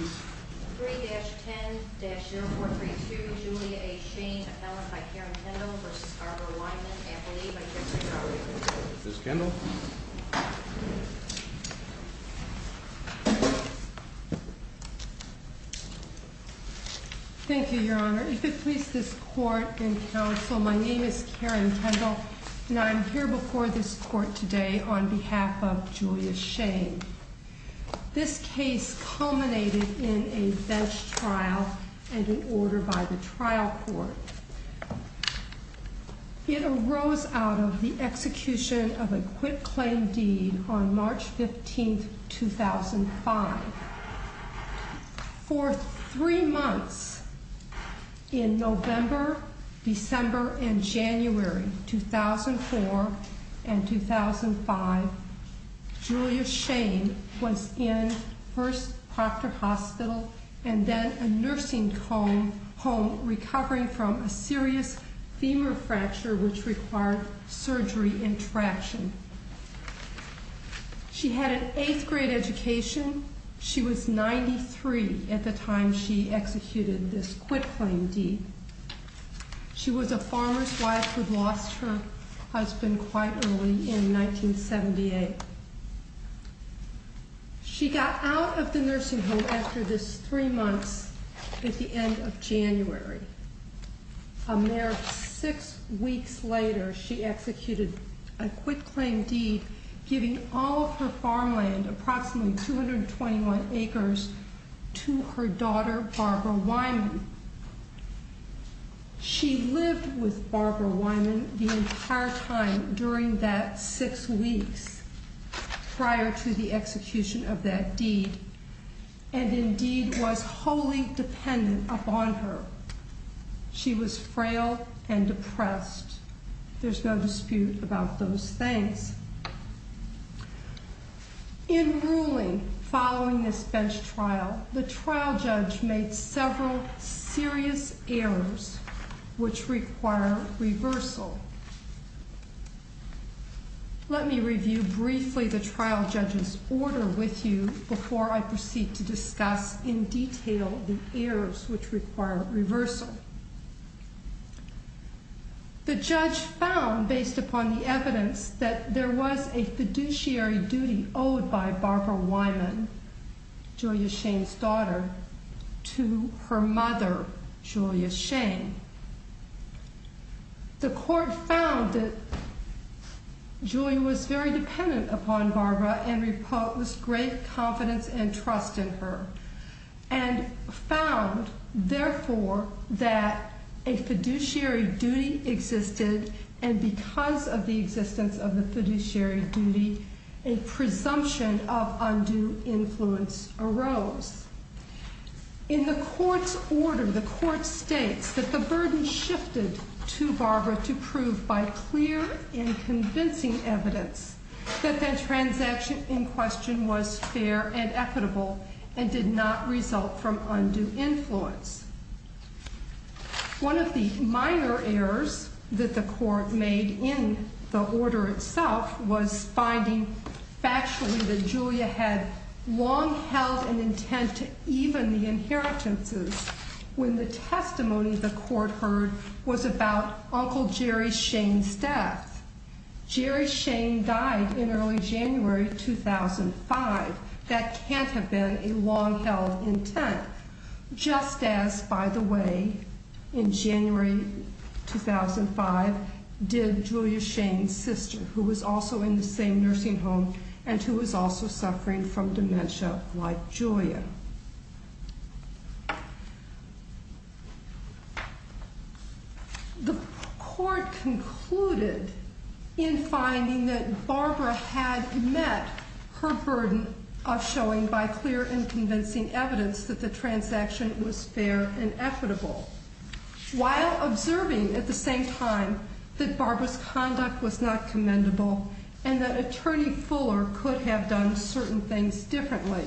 3-10-0432, Julia A. Shane, appellant by Karen Kendall v. Barbara Wyman, appellee by Jackson County. Ms. Kendall? Thank you, Your Honor. If it please this Court and Counsel, my name is Karen Kendall, and I am here before this Court today on behalf of Julia Shane. This case culminated in a bench trial and an order by the trial court. It arose out of the execution of a quitclaim deed on March 15, 2005. For three months in November, December, and January 2004 and 2005, Julia Shane was in First Proctor Hospital and then a nursing home, recovering from a serious femur fracture which required surgery and traction. She had an eighth grade education. She was 93 at the time she executed this quitclaim deed. She was a farmer's wife who'd lost her husband quite early in 1978. She got out of the nursing home after this three months at the end of January. A mere six weeks later, she executed a quitclaim deed, giving all of her farmland, approximately 221 acres, to her daughter, Barbara Wyman. She lived with Barbara Wyman the entire time during that six weeks prior to the execution of that deed, and indeed was wholly dependent upon her. She was frail and depressed. There's no dispute about those things. In ruling following this bench trial, the trial judge made several serious errors which require reversal. Let me review briefly the trial judge's order with you before I proceed to discuss in detail the errors which require reversal. The judge found, based upon the evidence, that there was a fiduciary duty owed by Barbara Wyman, Julia Shane's daughter, to her mother, Julia Shane. The court found that Julia was very dependent upon Barbara and reposed great confidence and trust in her, and found, therefore, that a fiduciary duty existed, and because of the existence of the fiduciary duty, a presumption of undue influence arose. In the court's order, the court states that the burden shifted to Barbara to prove, by clear and convincing evidence, that that transaction in question was fair and equitable and did not result from undue influence. One of the minor errors that the court made in the order itself was finding factually that Julia had long held an intent to even the inheritances when the testimony the court heard was about Uncle Jerry Shane's death. Jerry Shane died in early January 2005. That can't have been a long-held intent, just as, by the way, in January 2005 did Julia Shane's sister, who was also in the same nursing home and who was also suffering from dementia like Julia. The court concluded in finding that Barbara had met her burden of showing, by clear and convincing evidence, that the transaction was fair and equitable, while observing at the same time that Barbara's conduct was not commendable and that Attorney Fuller could have done certain things differently.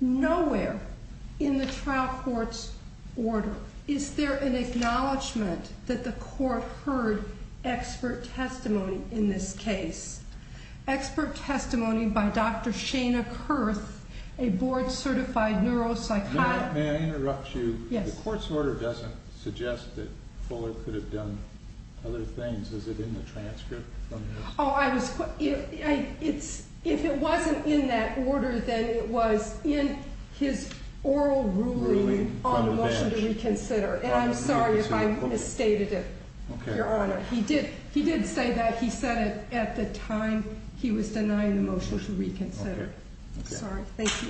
Nowhere in the trial court's order is there an acknowledgement that the court heard expert testimony in this case. Expert testimony by Dr. Shana Kurth, a board-certified neuropsychologist. May I interrupt you? Yes. The court's order doesn't suggest that Fuller could have done other things. Is it in the transcript? Oh, if it wasn't in that order, then it was in his oral ruling on the motion to reconsider. And I'm sorry if I misstated it, Your Honor. He did say that. He said it at the time he was denying the motion to reconsider. Okay. Sorry. Thank you.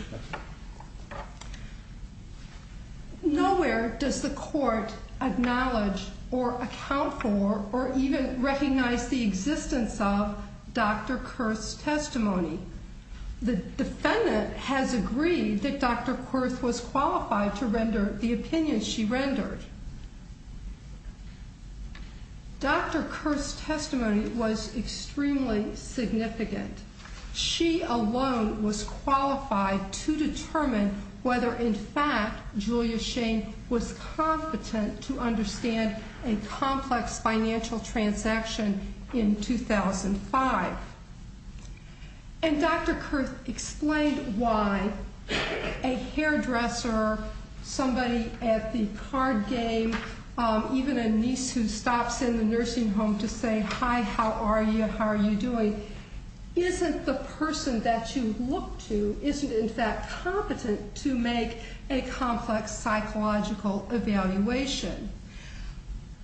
Nowhere does the court acknowledge or account for or even recognize the existence of Dr. Kurth's testimony. The defendant has agreed that Dr. Kurth was qualified to render the opinion she rendered. Dr. Kurth's testimony was extremely significant. She alone was qualified to determine whether, in fact, Julia Shane was competent to understand a complex financial transaction in 2005. And Dr. Kurth explained why a hairdresser, somebody at the card game, even a niece who stops in the nursing home to say, Hi, how are you, how are you doing, isn't the person that you look to, isn't, in fact, competent to make a complex psychological evaluation.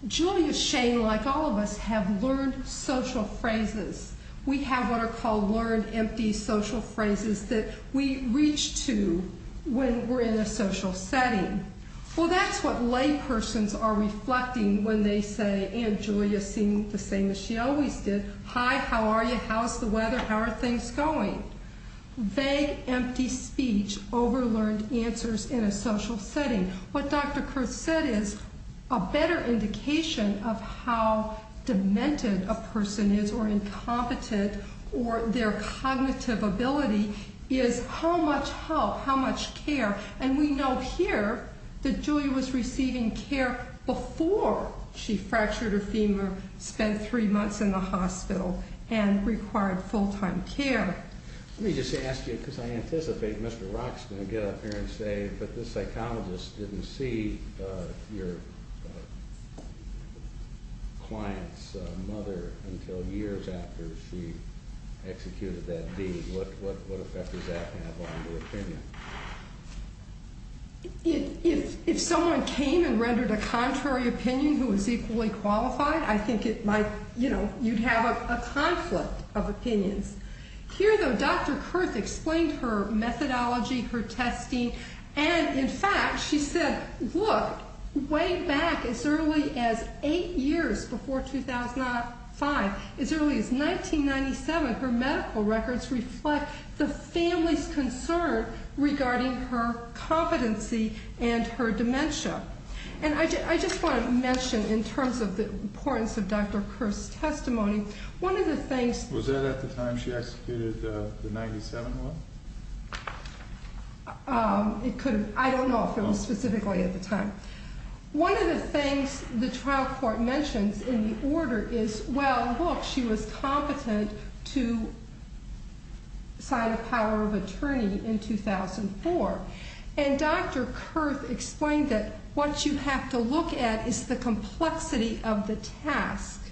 Julia Shane, like all of us, have learned social phrases. We have what are called learned empty social phrases that we reach to when we're in a social setting. Well, that's what laypersons are reflecting when they say, and Julia seemed the same as she always did, Hi, how are you, how's the weather, how are things going? Vague, empty speech, over-learned answers in a social setting. What Dr. Kurth said is a better indication of how demented a person is or incompetent or their cognitive ability is how much help, how much care. And we know here that Julia was receiving care before she fractured her femur, spent three months in the hospital, and required full-time care. Let me just ask you, because I anticipate Mr. Rock is going to get up here and say, but the psychologist didn't see your client's mother until years after she executed that deed. What effect does that have on your opinion? If someone came and rendered a contrary opinion who was equally qualified, I think it might, you know, you'd have a conflict of opinions. Here, though, Dr. Kurth explained her methodology, her testing, and in fact she said, look, way back as early as eight years before 2005, as early as 1997, her medical records reflect the family's concern regarding her competency and her dementia. And I just want to mention, in terms of the importance of Dr. Kurth's testimony, one of the things- Was that at the time she executed the 97 one? I don't know if it was specifically at the time. One of the things the trial court mentions in the order is, well, look, she was competent to sign a power of attorney in 2004. And Dr. Kurth explained that what you have to look at is the complexity of the task.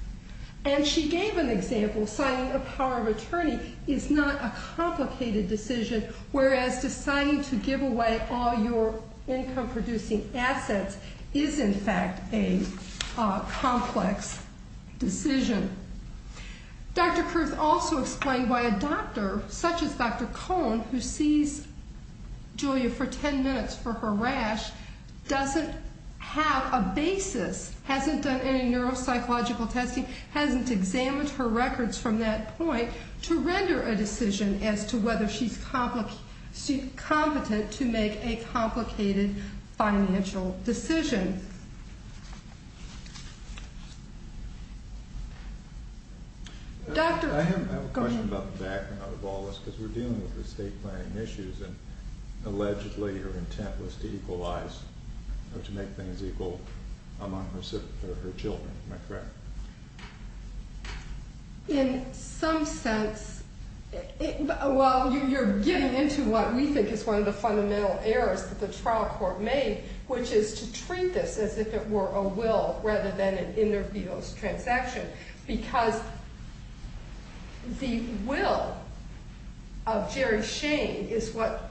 And she gave an example, signing a power of attorney is not a complicated decision, whereas deciding to give away all your income-producing assets is, in fact, a complex decision. Dr. Kurth also explained why a doctor, such as Dr. Cohn, who sees Julia for ten minutes for her rash, doesn't have a basis, hasn't done any neuropsychological testing, hasn't examined her records from that point to render a decision as to whether she's competent to make a complicated financial decision. I have a question about the background of all this, because we're dealing with estate planning issues and allegedly her intent was to equalize or to make things equal among her children. Am I correct? In some sense, well, you're getting into what we think is one of the fundamental errors that the trial court made, which is to treat this as if it were a will rather than an interference transaction, because the will of Jerry Shane is what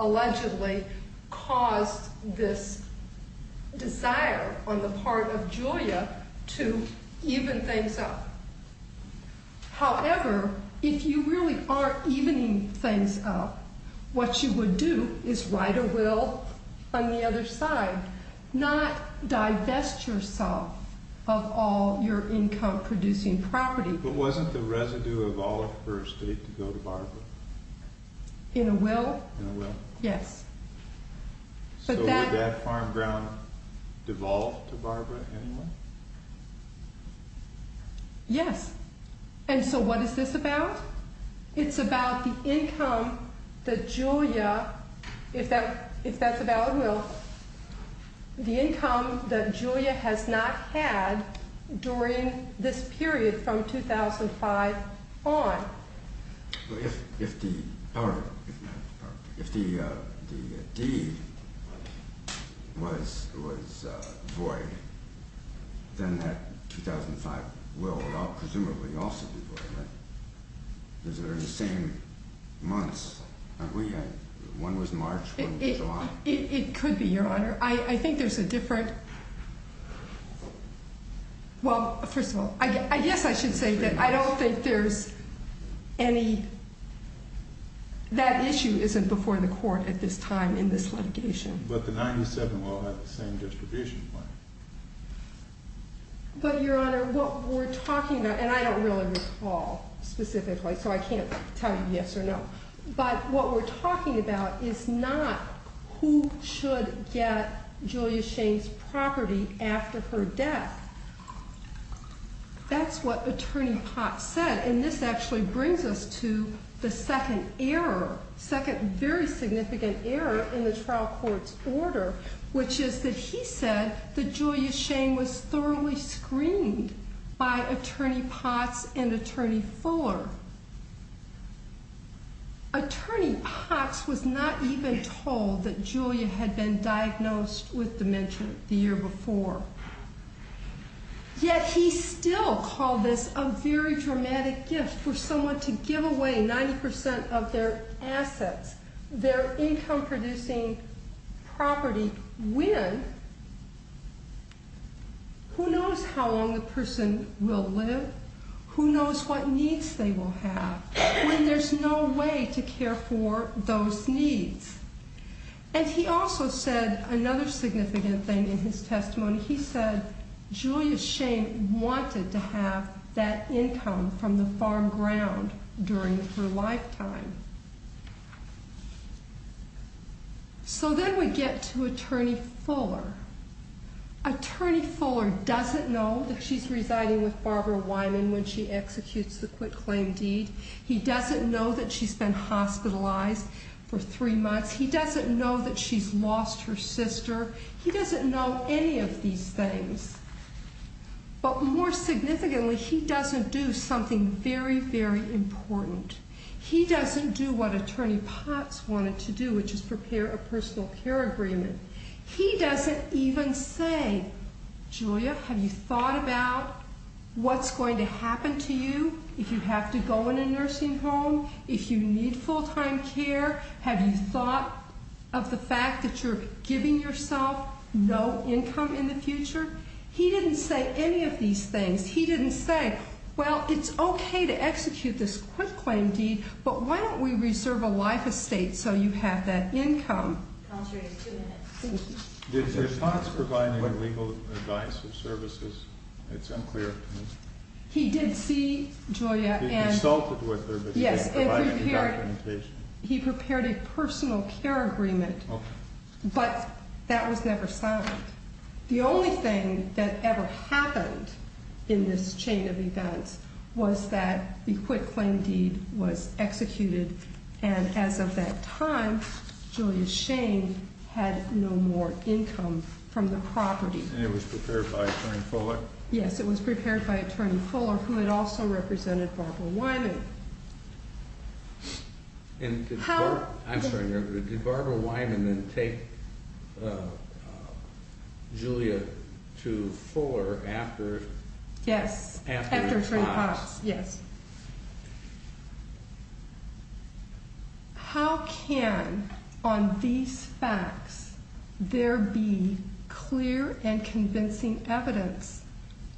allegedly caused this desire on the part of Julia to even things up. However, if you really are evening things up, what you would do is write a will on the other side, not divest yourself of all your income producing property. But wasn't the residue of all of her estate to go to Barbara? In a will? In a will. Yes. So would that farm ground devolve to Barbara anyway? Yes. And so what is this about? It's about the income that Julia, if that's a valid will, the income that Julia has not had during this period from 2005 on. If the deed was void, then that 2005 will presumably also be void, right? Those are the same months, aren't we? One was March, one was July. It could be, Your Honor. I think there's a different – well, first of all, I guess I should say that I don't think there's any – that issue isn't before the court at this time in this litigation. But the 97 will have the same distribution plan. But, Your Honor, what we're talking about – and I don't really recall specifically, so I can't tell you yes or no – but what we're talking about is not who should get Julia Shane's property after her death. That's what Attorney Potts said, and this actually brings us to the second error, second very significant error in the trial court's order, which is that he said that Julia Shane was thoroughly screened by Attorney Potts and Attorney Fuller. Attorney Potts was not even told that Julia had been diagnosed with dementia the year before. Yet he still called this a very dramatic gift for someone to give away 90% of their assets, their income-producing property, when? Who knows how long the person will live? Who knows what needs they will have when there's no way to care for those needs? And he also said another significant thing in his testimony. He said Julia Shane wanted to have that income from the farm ground during her lifetime. So then we get to Attorney Fuller. Attorney Fuller doesn't know that she's residing with Barbara Wyman when she executes the quitclaim deed. He doesn't know that she's been hospitalized for three months. He doesn't know that she's lost her sister. He doesn't know any of these things. But more significantly, he doesn't do something very, very important. He doesn't do what Attorney Potts wanted to do, which is prepare a personal care agreement. He doesn't even say, Julia, have you thought about what's going to happen to you if you have to go in a nursing home, if you need full-time care? Have you thought of the fact that you're giving yourself no income in the future? He didn't say any of these things. He didn't say, well, it's okay to execute this quitclaim deed, but why don't we reserve a life estate so you have that income? Counselor, you have two minutes. Thank you. Did Mr. Potts provide any legal advice or services? It's unclear. He did see Julia and— He consulted with her, but he didn't provide any documentation. He prepared a personal care agreement, but that was never signed. The only thing that ever happened in this chain of events was that the quitclaim deed was executed, and as of that time, Julia Shane had no more income from the property. And it was prepared by Attorney Fuller? Yes, it was prepared by Attorney Fuller, who had also represented Barbara Wyman. And did Barbara—I'm sorry, did Barbara Wyman then take Julia to Fuller after— Yes, after Trey Potts, yes. How can, on these facts, there be clear and convincing evidence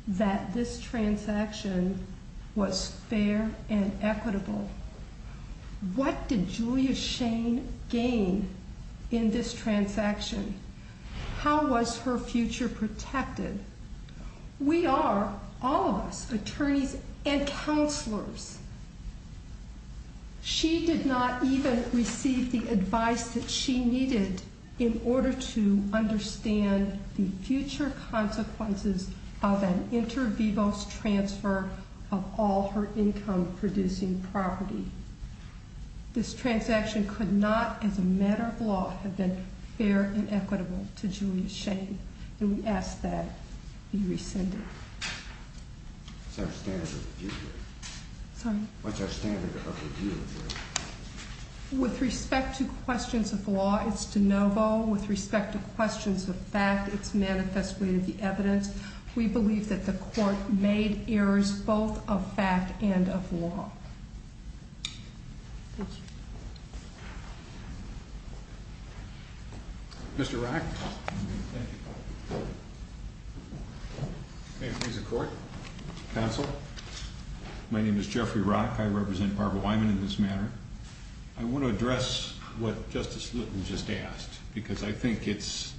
that this transaction was fair and equitable? What did Julia Shane gain in this transaction? How was her future protected? We are, all of us, attorneys and counselors. She did not even receive the advice that she needed in order to understand the future consequences of an inter vivos transfer of all her income-producing property. This transaction could not, as a matter of law, have been fair and equitable to Julia Shane. And we ask that it be rescinded. What's our standard of review here? Sorry? What's our standard of review here? With respect to questions of law, it's de novo. With respect to questions of fact, it's manifestly in the evidence. We believe that the Court made errors both of fact and of law. Thank you. Mr. Rock. Thank you. May it please the Court, Counsel. My name is Jeffrey Rock. I represent Barbara Wyman in this matter. I want to address what Justice Lutton just asked because I think it's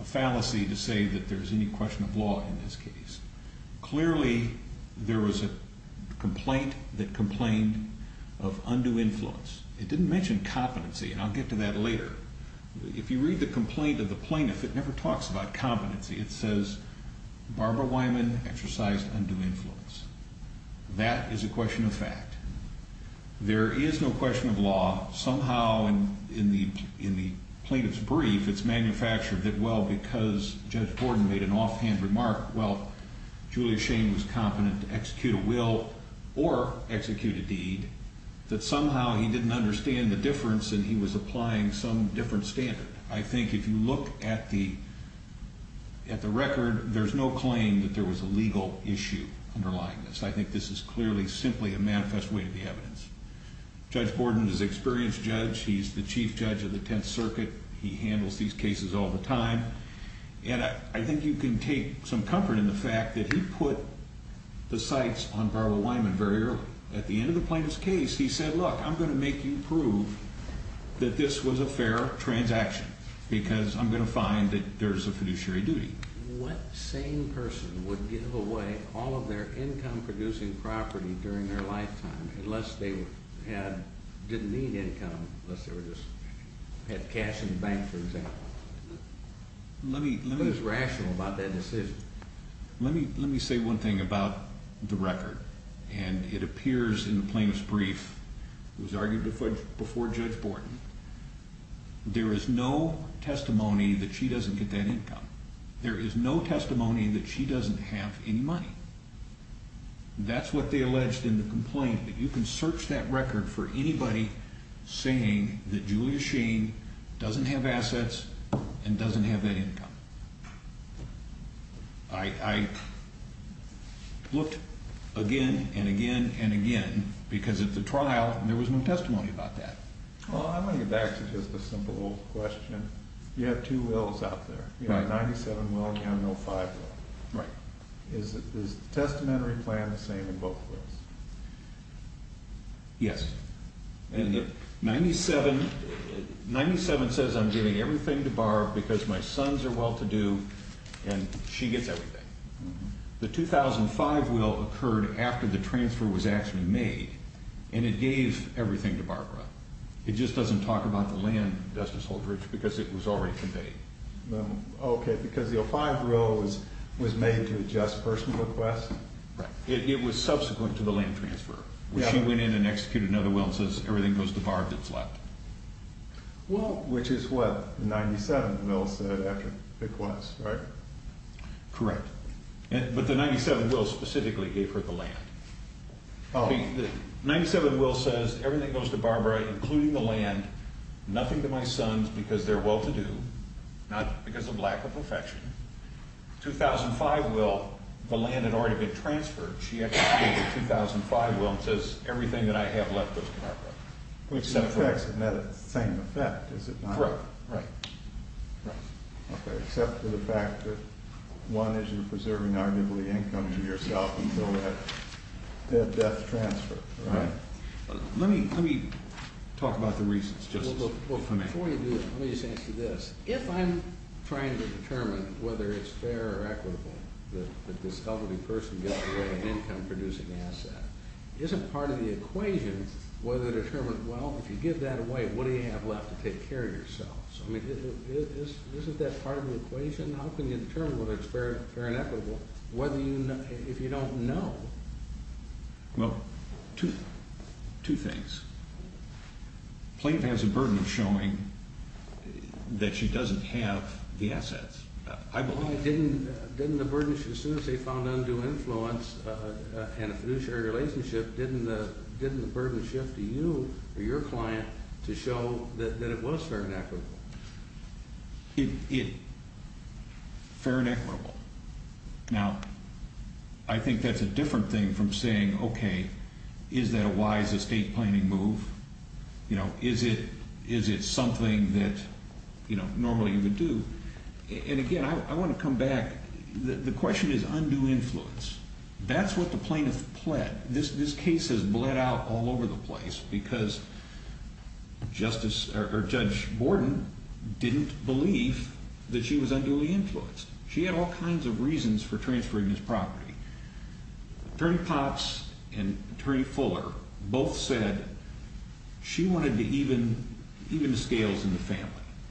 a fallacy to say that there's any question of law in this case. Clearly, there was a complaint that complained of undue influence. It didn't mention competency, and I'll get to that later. If you read the complaint of the plaintiff, it never talks about competency. It says, Barbara Wyman exercised undue influence. That is a question of fact. There is no question of law. Somehow, in the plaintiff's brief, it's manufactured that, well, because Judge Gordon made an offhand remark, well, Julia Shane was competent to execute a will or execute a deed, that somehow he didn't understand the difference and he was applying some different standard. I think if you look at the record, there's no claim that there was a legal issue underlying this. I think this is clearly simply a manifest way to the evidence. Judge Gordon is an experienced judge. He's the chief judge of the Tenth Circuit. He handles these cases all the time. And I think you can take some comfort in the fact that he put the sights on Barbara Wyman very early. At the end of the plaintiff's case, he said, look, I'm going to make you prove that this was a fair transaction because I'm going to find that there's a fiduciary duty. What sane person would give away all of their income-producing property during their lifetime unless they didn't need income, unless they just had cash in the bank, for example? Who's rational about that decision? Let me say one thing about the record. And it appears in the plaintiff's brief, it was argued before Judge Borton, there is no testimony that she doesn't get that income. There is no testimony that she doesn't have any money. That's what they alleged in the complaint, that you can search that record for anybody saying that Julia Sheen doesn't have assets and doesn't have that income. I looked again and again and again because at the trial, there was no testimony about that. Well, I'm going to get back to just a simple old question. You have two wills out there. You have a 97 will and you have an 05 will. Right. Is the testamentary plan the same in both wills? Yes. And the 97 says I'm giving everything to Barbara because my sons are well-to-do and she gets everything. The 2005 will occurred after the transfer was actually made and it gave everything to Barbara. It just doesn't talk about the land, Justice Holdridge, because it was already conveyed. Okay. Because the 05 will was made to adjust personal requests? Right. It was subsequent to the land transfer. She went in and executed another will and says everything goes to Barbara that's left. Well, which is what the 97 will said after the request, right? Correct. But the 97 will specifically gave her the land. The 97 will says everything goes to Barbara, including the land, nothing to my sons because they're well-to-do, not because of lack of affection. 2005 will, the land had already been transferred. She executed the 2005 will and says everything that I have left goes to Barbara. The effects are not the same effect, is it not? Correct. Right. Okay. Except for the fact that, one, is you're preserving arguably income to yourself until that death transfer. Right. Let me talk about the reasons, Justice. Before you do that, let me just answer this. If I'm trying to determine whether it's fair or equitable that this elderly person gets to have an income-producing asset, isn't part of the equation whether to determine, well, if you give that away, what do you have left to take care of yourself? I mean, isn't that part of the equation? How can you determine whether it's fair and equitable if you don't know? Well, two things. Plaintiff has a burden of showing that she doesn't have the assets, I believe. Didn't the burden, as soon as they found undue influence in a fiduciary relationship, didn't the burden shift to you or your client to show that it was fair and equitable? Fair and equitable. Now, I think that's a different thing from saying, okay, is that a wise estate planning move? You know, is it something that, you know, normally you would do? And, again, I want to come back. The question is undue influence. That's what the plaintiff pled. This case has bled out all over the place because Judge Borden didn't believe that she was unduly influenced. She had all kinds of reasons for transferring this property. Attorney Potts and Attorney Fuller both said she wanted to even the scales in the family.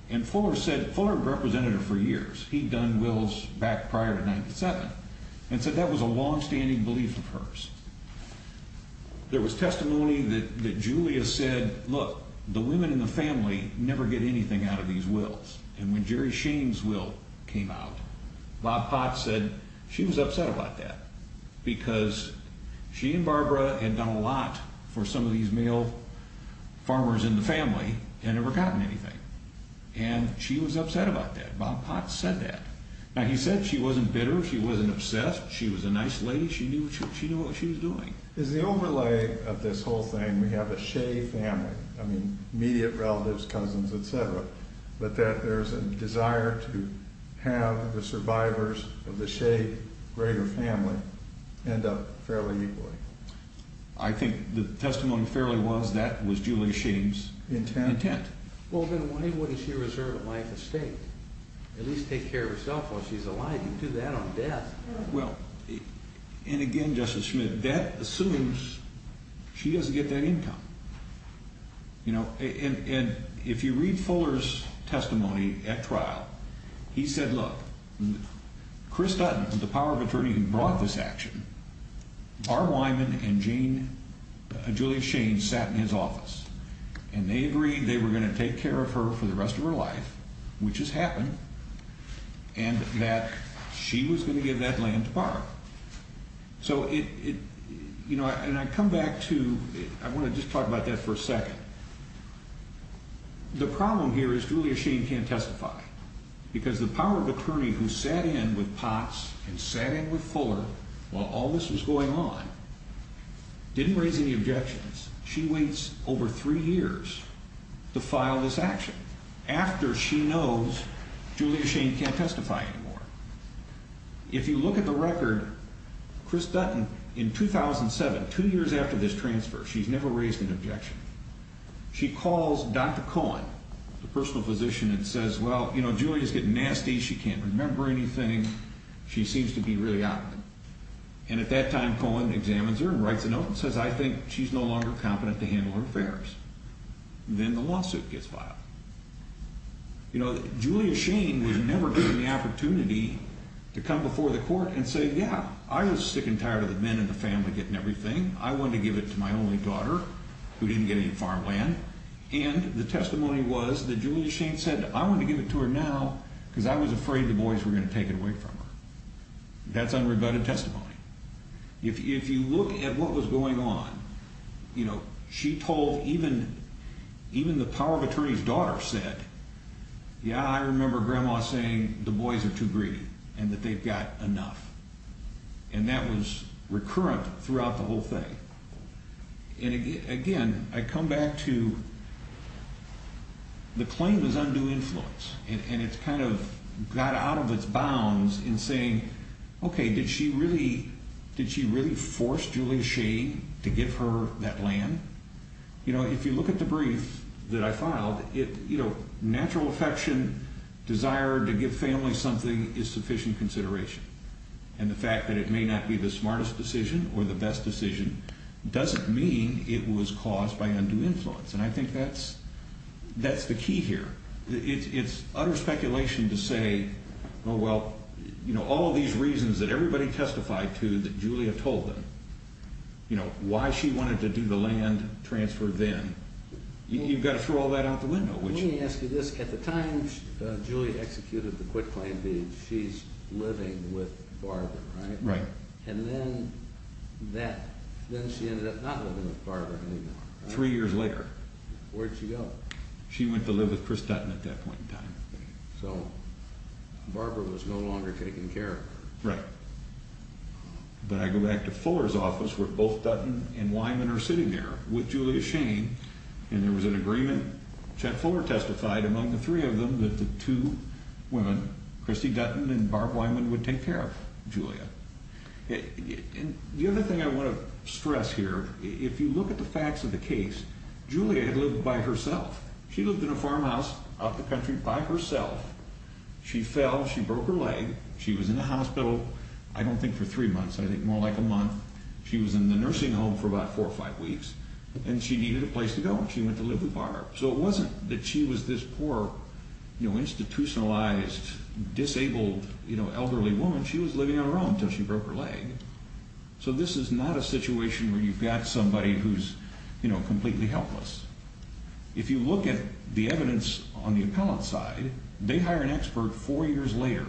And Fuller said, Fuller represented her for years. He'd done wills back prior to 97 and said that was a longstanding belief of hers. There was testimony that Julia said, look, the women in the family never get anything out of these wills. And when Jerry Shane's will came out, Bob Potts said she was upset about that because she and Barbara had done a lot for some of these male farmers in the family and never gotten anything. And she was upset about that. Bob Potts said that. Now, he said she wasn't bitter. She wasn't obsessed. She was a nice lady. She knew what she was doing. Is the overlay of this whole thing, we have a Shea family, I mean, immediate relatives, cousins, et cetera, but that there's a desire to have the survivors of the Shea greater family end up fairly equally? I think the testimony fairly was that was Julia Shane's intent. Well, then why wouldn't she reserve a life estate? At least take care of herself while she's alive. You'd do that on death. Well, and again, Justice Schmidt, that assumes she doesn't get that income. And if you read Fuller's testimony at trial, he said, look, Chris Dutton, the power of attorney who brought this action, R. Wyman and Julia Shane sat in his office, and they agreed they were going to take care of her for the rest of her life, which has happened, and that she was going to give that land to Barbara. So it, you know, and I come back to, I want to just talk about that for a second. The problem here is Julia Shane can't testify because the power of attorney who sat in with Potts and sat in with Fuller while all this was going on didn't raise any objections. She waits over three years to file this action after she knows Julia Shane can't testify anymore. If you look at the record, Chris Dutton, in 2007, two years after this transfer, she's never raised an objection. She calls Dr. Cohen, the personal physician, and says, well, you know, Julia's getting nasty. She can't remember anything. She seems to be really out of it. And at that time, Cohen examines her and writes a note and says, I think she's no longer competent to handle her affairs. Then the lawsuit gets filed. You know, Julia Shane was never given the opportunity to come before the court and say, yeah, I was sick and tired of the men in the family getting everything. I wanted to give it to my only daughter who didn't get any farmland. And the testimony was that Julia Shane said, I want to give it to her now because I was afraid the boys were going to take it away from her. That's unrebutted testimony. If you look at what was going on, you know, she told even the power of attorney's daughter said, yeah, I remember grandma saying the boys are too greedy and that they've got enough. And that was recurrent throughout the whole thing. And again, I come back to the claim is undue influence. And it's kind of got out of its bounds in saying, okay, did she really did she really force Julia Shane to give her that land? You know, if you look at the brief that I filed, it, you know, natural affection, desire to give family something is sufficient consideration. And the fact that it may not be the smartest decision or the best decision doesn't mean it was caused by undue influence. And I think that's that's the key here. It's utter speculation to say, oh, well, you know, all of these reasons that everybody testified to that Julia told them, you know, why she wanted to do the land transfer then. You've got to throw all that out the window. Let me ask you this. At the time Julia executed the quick claim being she's living with Barbara, right? Right. And then that then she ended up not living with Barbara. Three years later. Where'd she go? She went to live with Chris Dutton at that point in time. So Barbara was no longer taken care of. Right. But I go back to Fuller's office where both Dutton and Wyman are sitting there with Julia Shane. And there was an agreement. Chet Fuller testified among the three of them that the two women, Christy Dutton and Barb Wyman, would take care of Julia. And the other thing I want to stress here, if you look at the facts of the case, Julia had lived by herself. She lived in a farmhouse out the country by herself. She fell. She broke her leg. She was in the hospital. I don't think for three months. I think more like a month. She was in the nursing home for about four or five weeks and she needed a place to go. She went to live with Barbara. So it wasn't that she was this poor, you know, institutionalized, disabled, you know, elderly woman. She was living on her own until she broke her leg. So this is not a situation where you've got somebody who's, you know, completely helpless. If you look at the evidence on the appellant side, they hire an expert four years later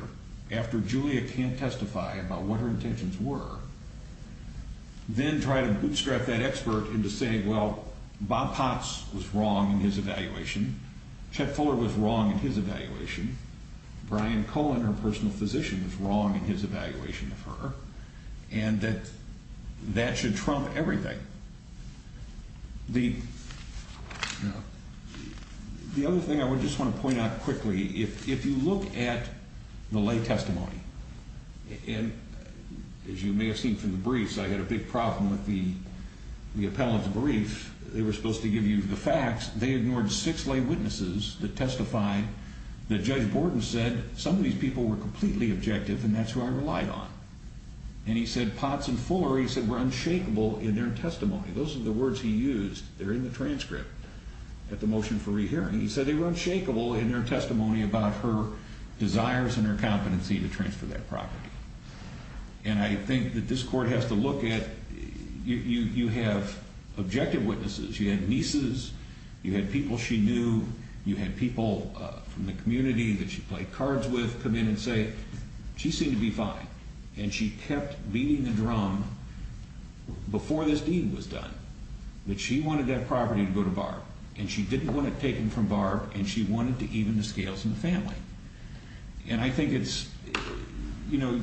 after Julia can't testify about what her intentions were, then try to bootstrap that expert into saying, well, Bob Potts was wrong in his evaluation. Chet Fuller was wrong in his evaluation. Brian Cohen, her personal physician, was wrong in his evaluation of her, and that that should trump everything. The other thing I just want to point out quickly, if you look at the lay testimony, and as you may have seen from the briefs, I had a big problem with the appellant's brief. They were supposed to give you the facts. They ignored six lay witnesses that testified that Judge Borden said some of these people were completely objective and that's who I relied on. And he said Potts and Fuller, he said, were unshakable in their testimony. Those are the words he used. They're in the transcript at the motion for rehearing. He said they were unshakable in their testimony about her desires and her competency to transfer that property. And I think that this court has to look at, you have objective witnesses. You had nieces. You had people she knew. You had people from the community that she played cards with come in and say, she seemed to be fine. And she kept beating the drum before this deed was done that she wanted that property to go to Barb. And she didn't want it taken from Barb, and she wanted to even the scales in the family. And I think it's, you know,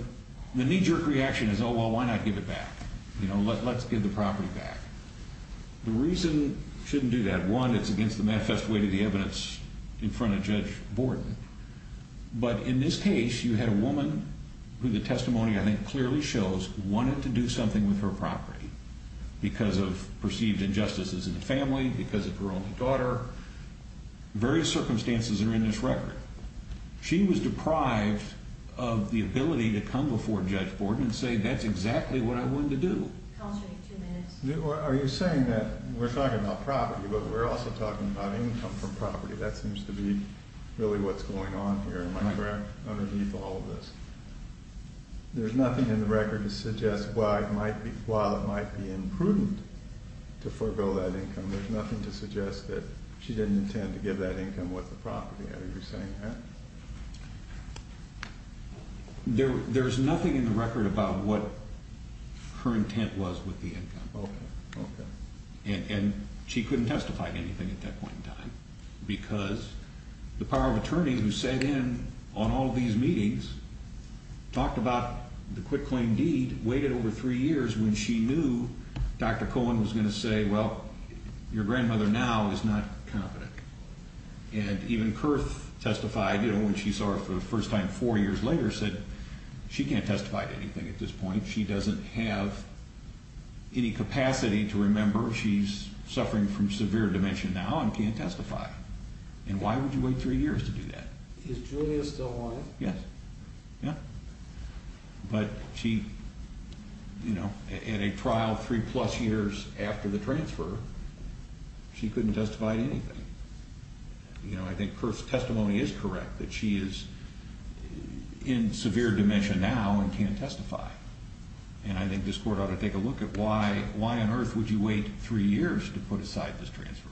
the knee-jerk reaction is, oh, well, why not give it back? You know, let's give the property back. The reason you shouldn't do that, one, it's against the manifest way to the evidence in front of Judge Borden. But in this case, you had a woman who the testimony, I think, clearly shows wanted to do something with her property because of perceived injustices in the family, because of her only daughter. Various circumstances are in this record. She was deprived of the ability to come before Judge Borden and say, that's exactly what I wanted to do. I'll take two minutes. Are you saying that we're talking about property, but we're also talking about income from property? That seems to be really what's going on here in my grant underneath all of this. There's nothing in the record to suggest why it might be imprudent to forego that income. There's nothing to suggest that she didn't intend to give that income with the property. Are you saying that? There's nothing in the record about what her intent was with the income. Okay, okay. And she couldn't testify to anything at that point in time because the power of attorney who sat in on all of these meetings talked about the quitclaim deed, waited over three years when she knew Dr. Cohen was going to say, well, your grandmother now is not competent. And even Kurth testified when she saw her for the first time four years later, said she can't testify to anything at this point. She doesn't have any capacity to remember she's suffering from severe dementia now and can't testify. And why would you wait three years to do that? Is Julia still alive? Yes. Yeah. But she, you know, at a trial three-plus years after the transfer, she couldn't testify to anything. You know, I think Kurth's testimony is correct that she is in severe dementia now and can't testify. And I think this Court ought to take a look at why on earth would you wait three years to put aside this transfer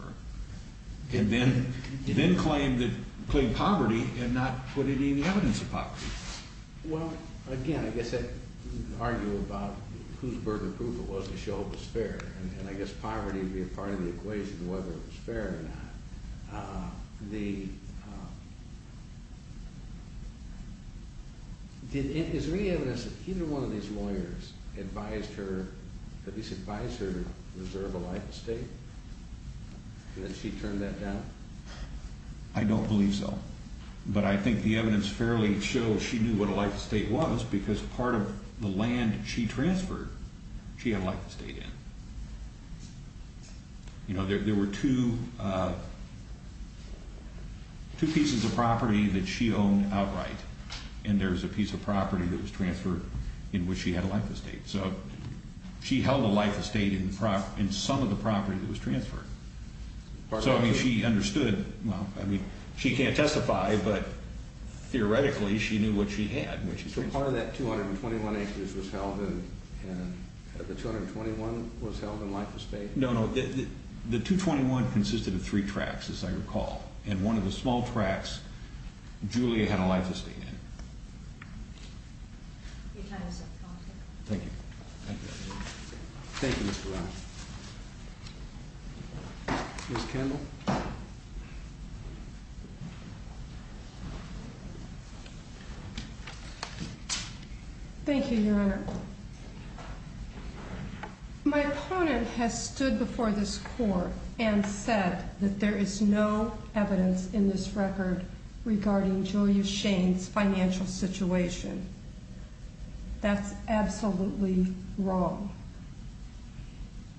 and then claim poverty and not put any evidence of poverty. Well, again, I guess I'd argue about whose burden of proof it was to show it was fair. And I guess poverty would be a part of the equation of whether it was fair or not. Is there any evidence that either one of these lawyers advised her, at least advised her to reserve a life estate and that she turned that down? I don't believe so. But I think the evidence fairly shows she knew what a life estate was because part of the land she transferred, she had a life estate in. You know, there were two pieces of property that she owned outright, and there was a piece of property that was transferred in which she had a life estate. So she held a life estate in some of the property that was transferred. So, I mean, she understood. Well, I mean, she can't testify, but theoretically she knew what she had. So part of that 221 acres was held and the 221 was held in life estate? No, no. The 221 consisted of three tracts, as I recall. And one of the small tracts, Julia had a life estate in. Thank you. Thank you. Thank you, Mr. Ryan. Ms. Kendall? Thank you, Your Honor. My opponent has stood before this court and said that there is no evidence in this record regarding Julia Shane's financial situation. That's absolutely wrong.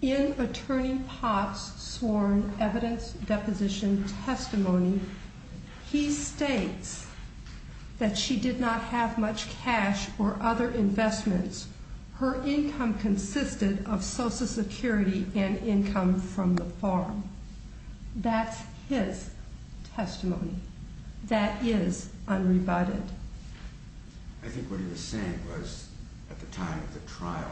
In Attorney Potts' sworn evidence deposition testimony, he states that she did not have much cash or other investments. Her income consisted of Social Security and income from the farm. That's his testimony. That is unrebutted. I think what he was saying was at the time of the trial,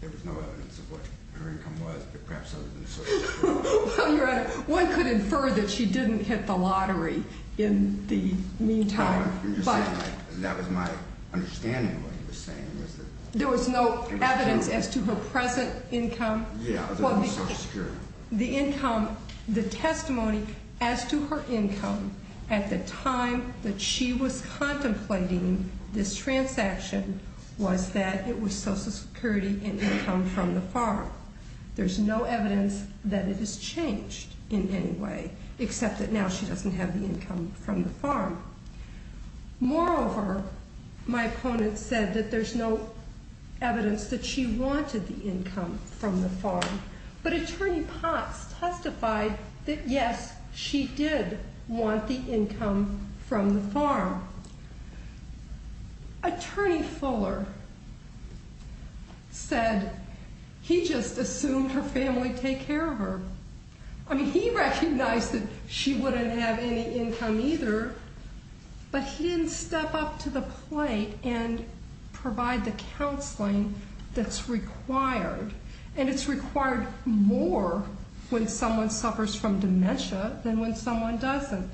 there was no evidence of what her income was, but perhaps other than Social Security. Well, Your Honor, one could infer that she didn't hit the lottery in the meantime. No, I'm just saying that was my understanding of what he was saying. There was no evidence as to her present income? Yeah, other than Social Security. However, the testimony as to her income at the time that she was contemplating this transaction was that it was Social Security and income from the farm. There's no evidence that it has changed in any way, except that now she doesn't have the income from the farm. Moreover, my opponent said that there's no evidence that she wanted the income from the farm. But Attorney Potts testified that, yes, she did want the income from the farm. Attorney Fuller said he just assumed her family would take care of her. I mean, he recognized that she wouldn't have any income either, but he didn't step up to the plate and provide the counseling that's required. And it's required more when someone suffers from dementia than when someone doesn't.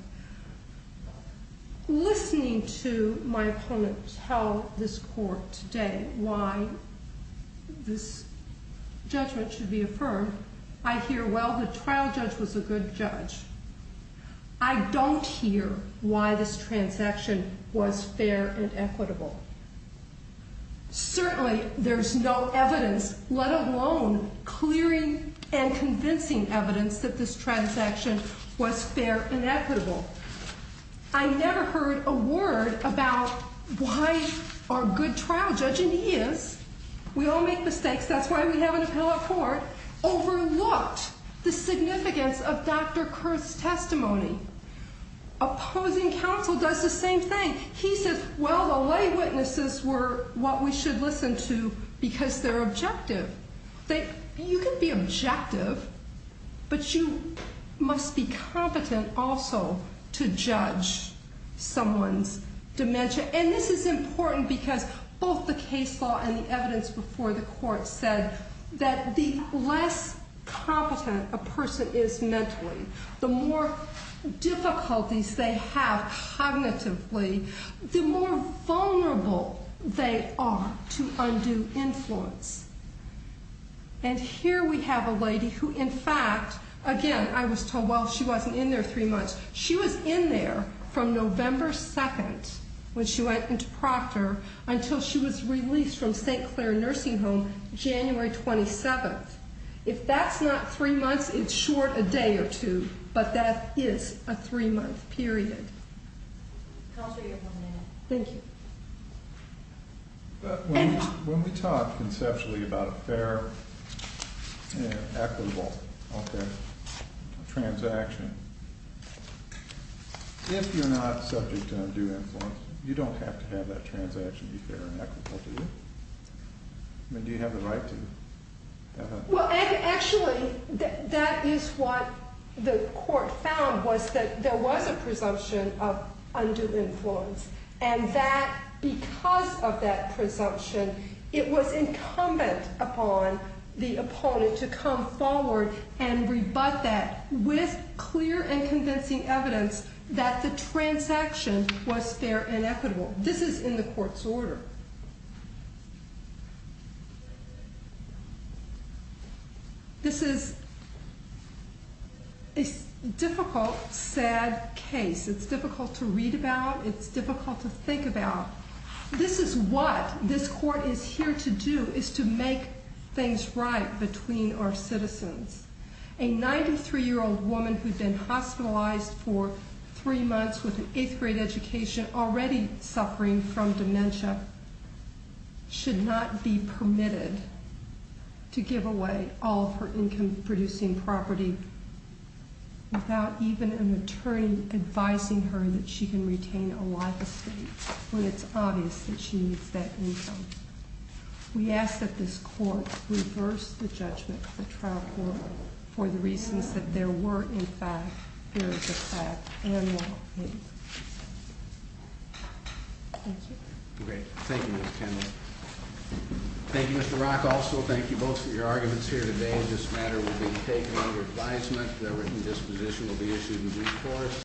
Listening to my opponent tell this court today why this judgment should be affirmed, I hear, well, the trial judge was a good judge. I don't hear why this transaction was fair and equitable. Certainly there's no evidence, let alone clearing and convincing evidence that this transaction was fair and equitable. I never heard a word about why a good trial judge, and he is, we all make mistakes, that's why we have an appellate court, overlooked the significance of Dr. Kurth's testimony. Opposing counsel does the same thing. And he says, well, the lay witnesses were what we should listen to because they're objective. You can be objective, but you must be competent also to judge someone's dementia. And this is important because both the case law and the evidence before the court said that the less competent a person is mentally, the more difficulties they have cognitively, the more vulnerable they are to undue influence. And here we have a lady who, in fact, again, I was told, well, she wasn't in there three months. She was in there from November 2nd when she went into Proctor until she was released from St. Clair Nursing Home January 27th. If that's not three months, it's short a day or two, but that is a three-month period. Thank you. When we talk conceptually about a fair and equitable transaction, if you're not subject to undue influence, you don't have to have that transaction be fair and equitable, do you? I mean, do you have the right to? Well, actually, that is what the court found was that there was a presumption of undue influence. And that because of that presumption, it was incumbent upon the opponent to come forward and rebut that with clear and convincing evidence that the transaction was fair and equitable. This is in the court's order. This is a difficult, sad case. It's difficult to read about. It's difficult to think about. This is what this court is here to do, is to make things right between our citizens. A 93-year-old woman who'd been hospitalized for three months with an eighth-grade education, already suffering from dementia, should not be permitted to give away all of her income-producing property without even an attorney advising her that she can retain a life estate when it's obvious that she needs that income. We ask that this court reverse the judgment of the trial court for the reasons that there were, in fact, periods of five annual payments. Thank you. Great. Thank you, Ms. Kendall. Thank you, Mr. Rock. Also, thank you both for your arguments here today. This matter will be taken under advisement. The written disposition will be issued in due course.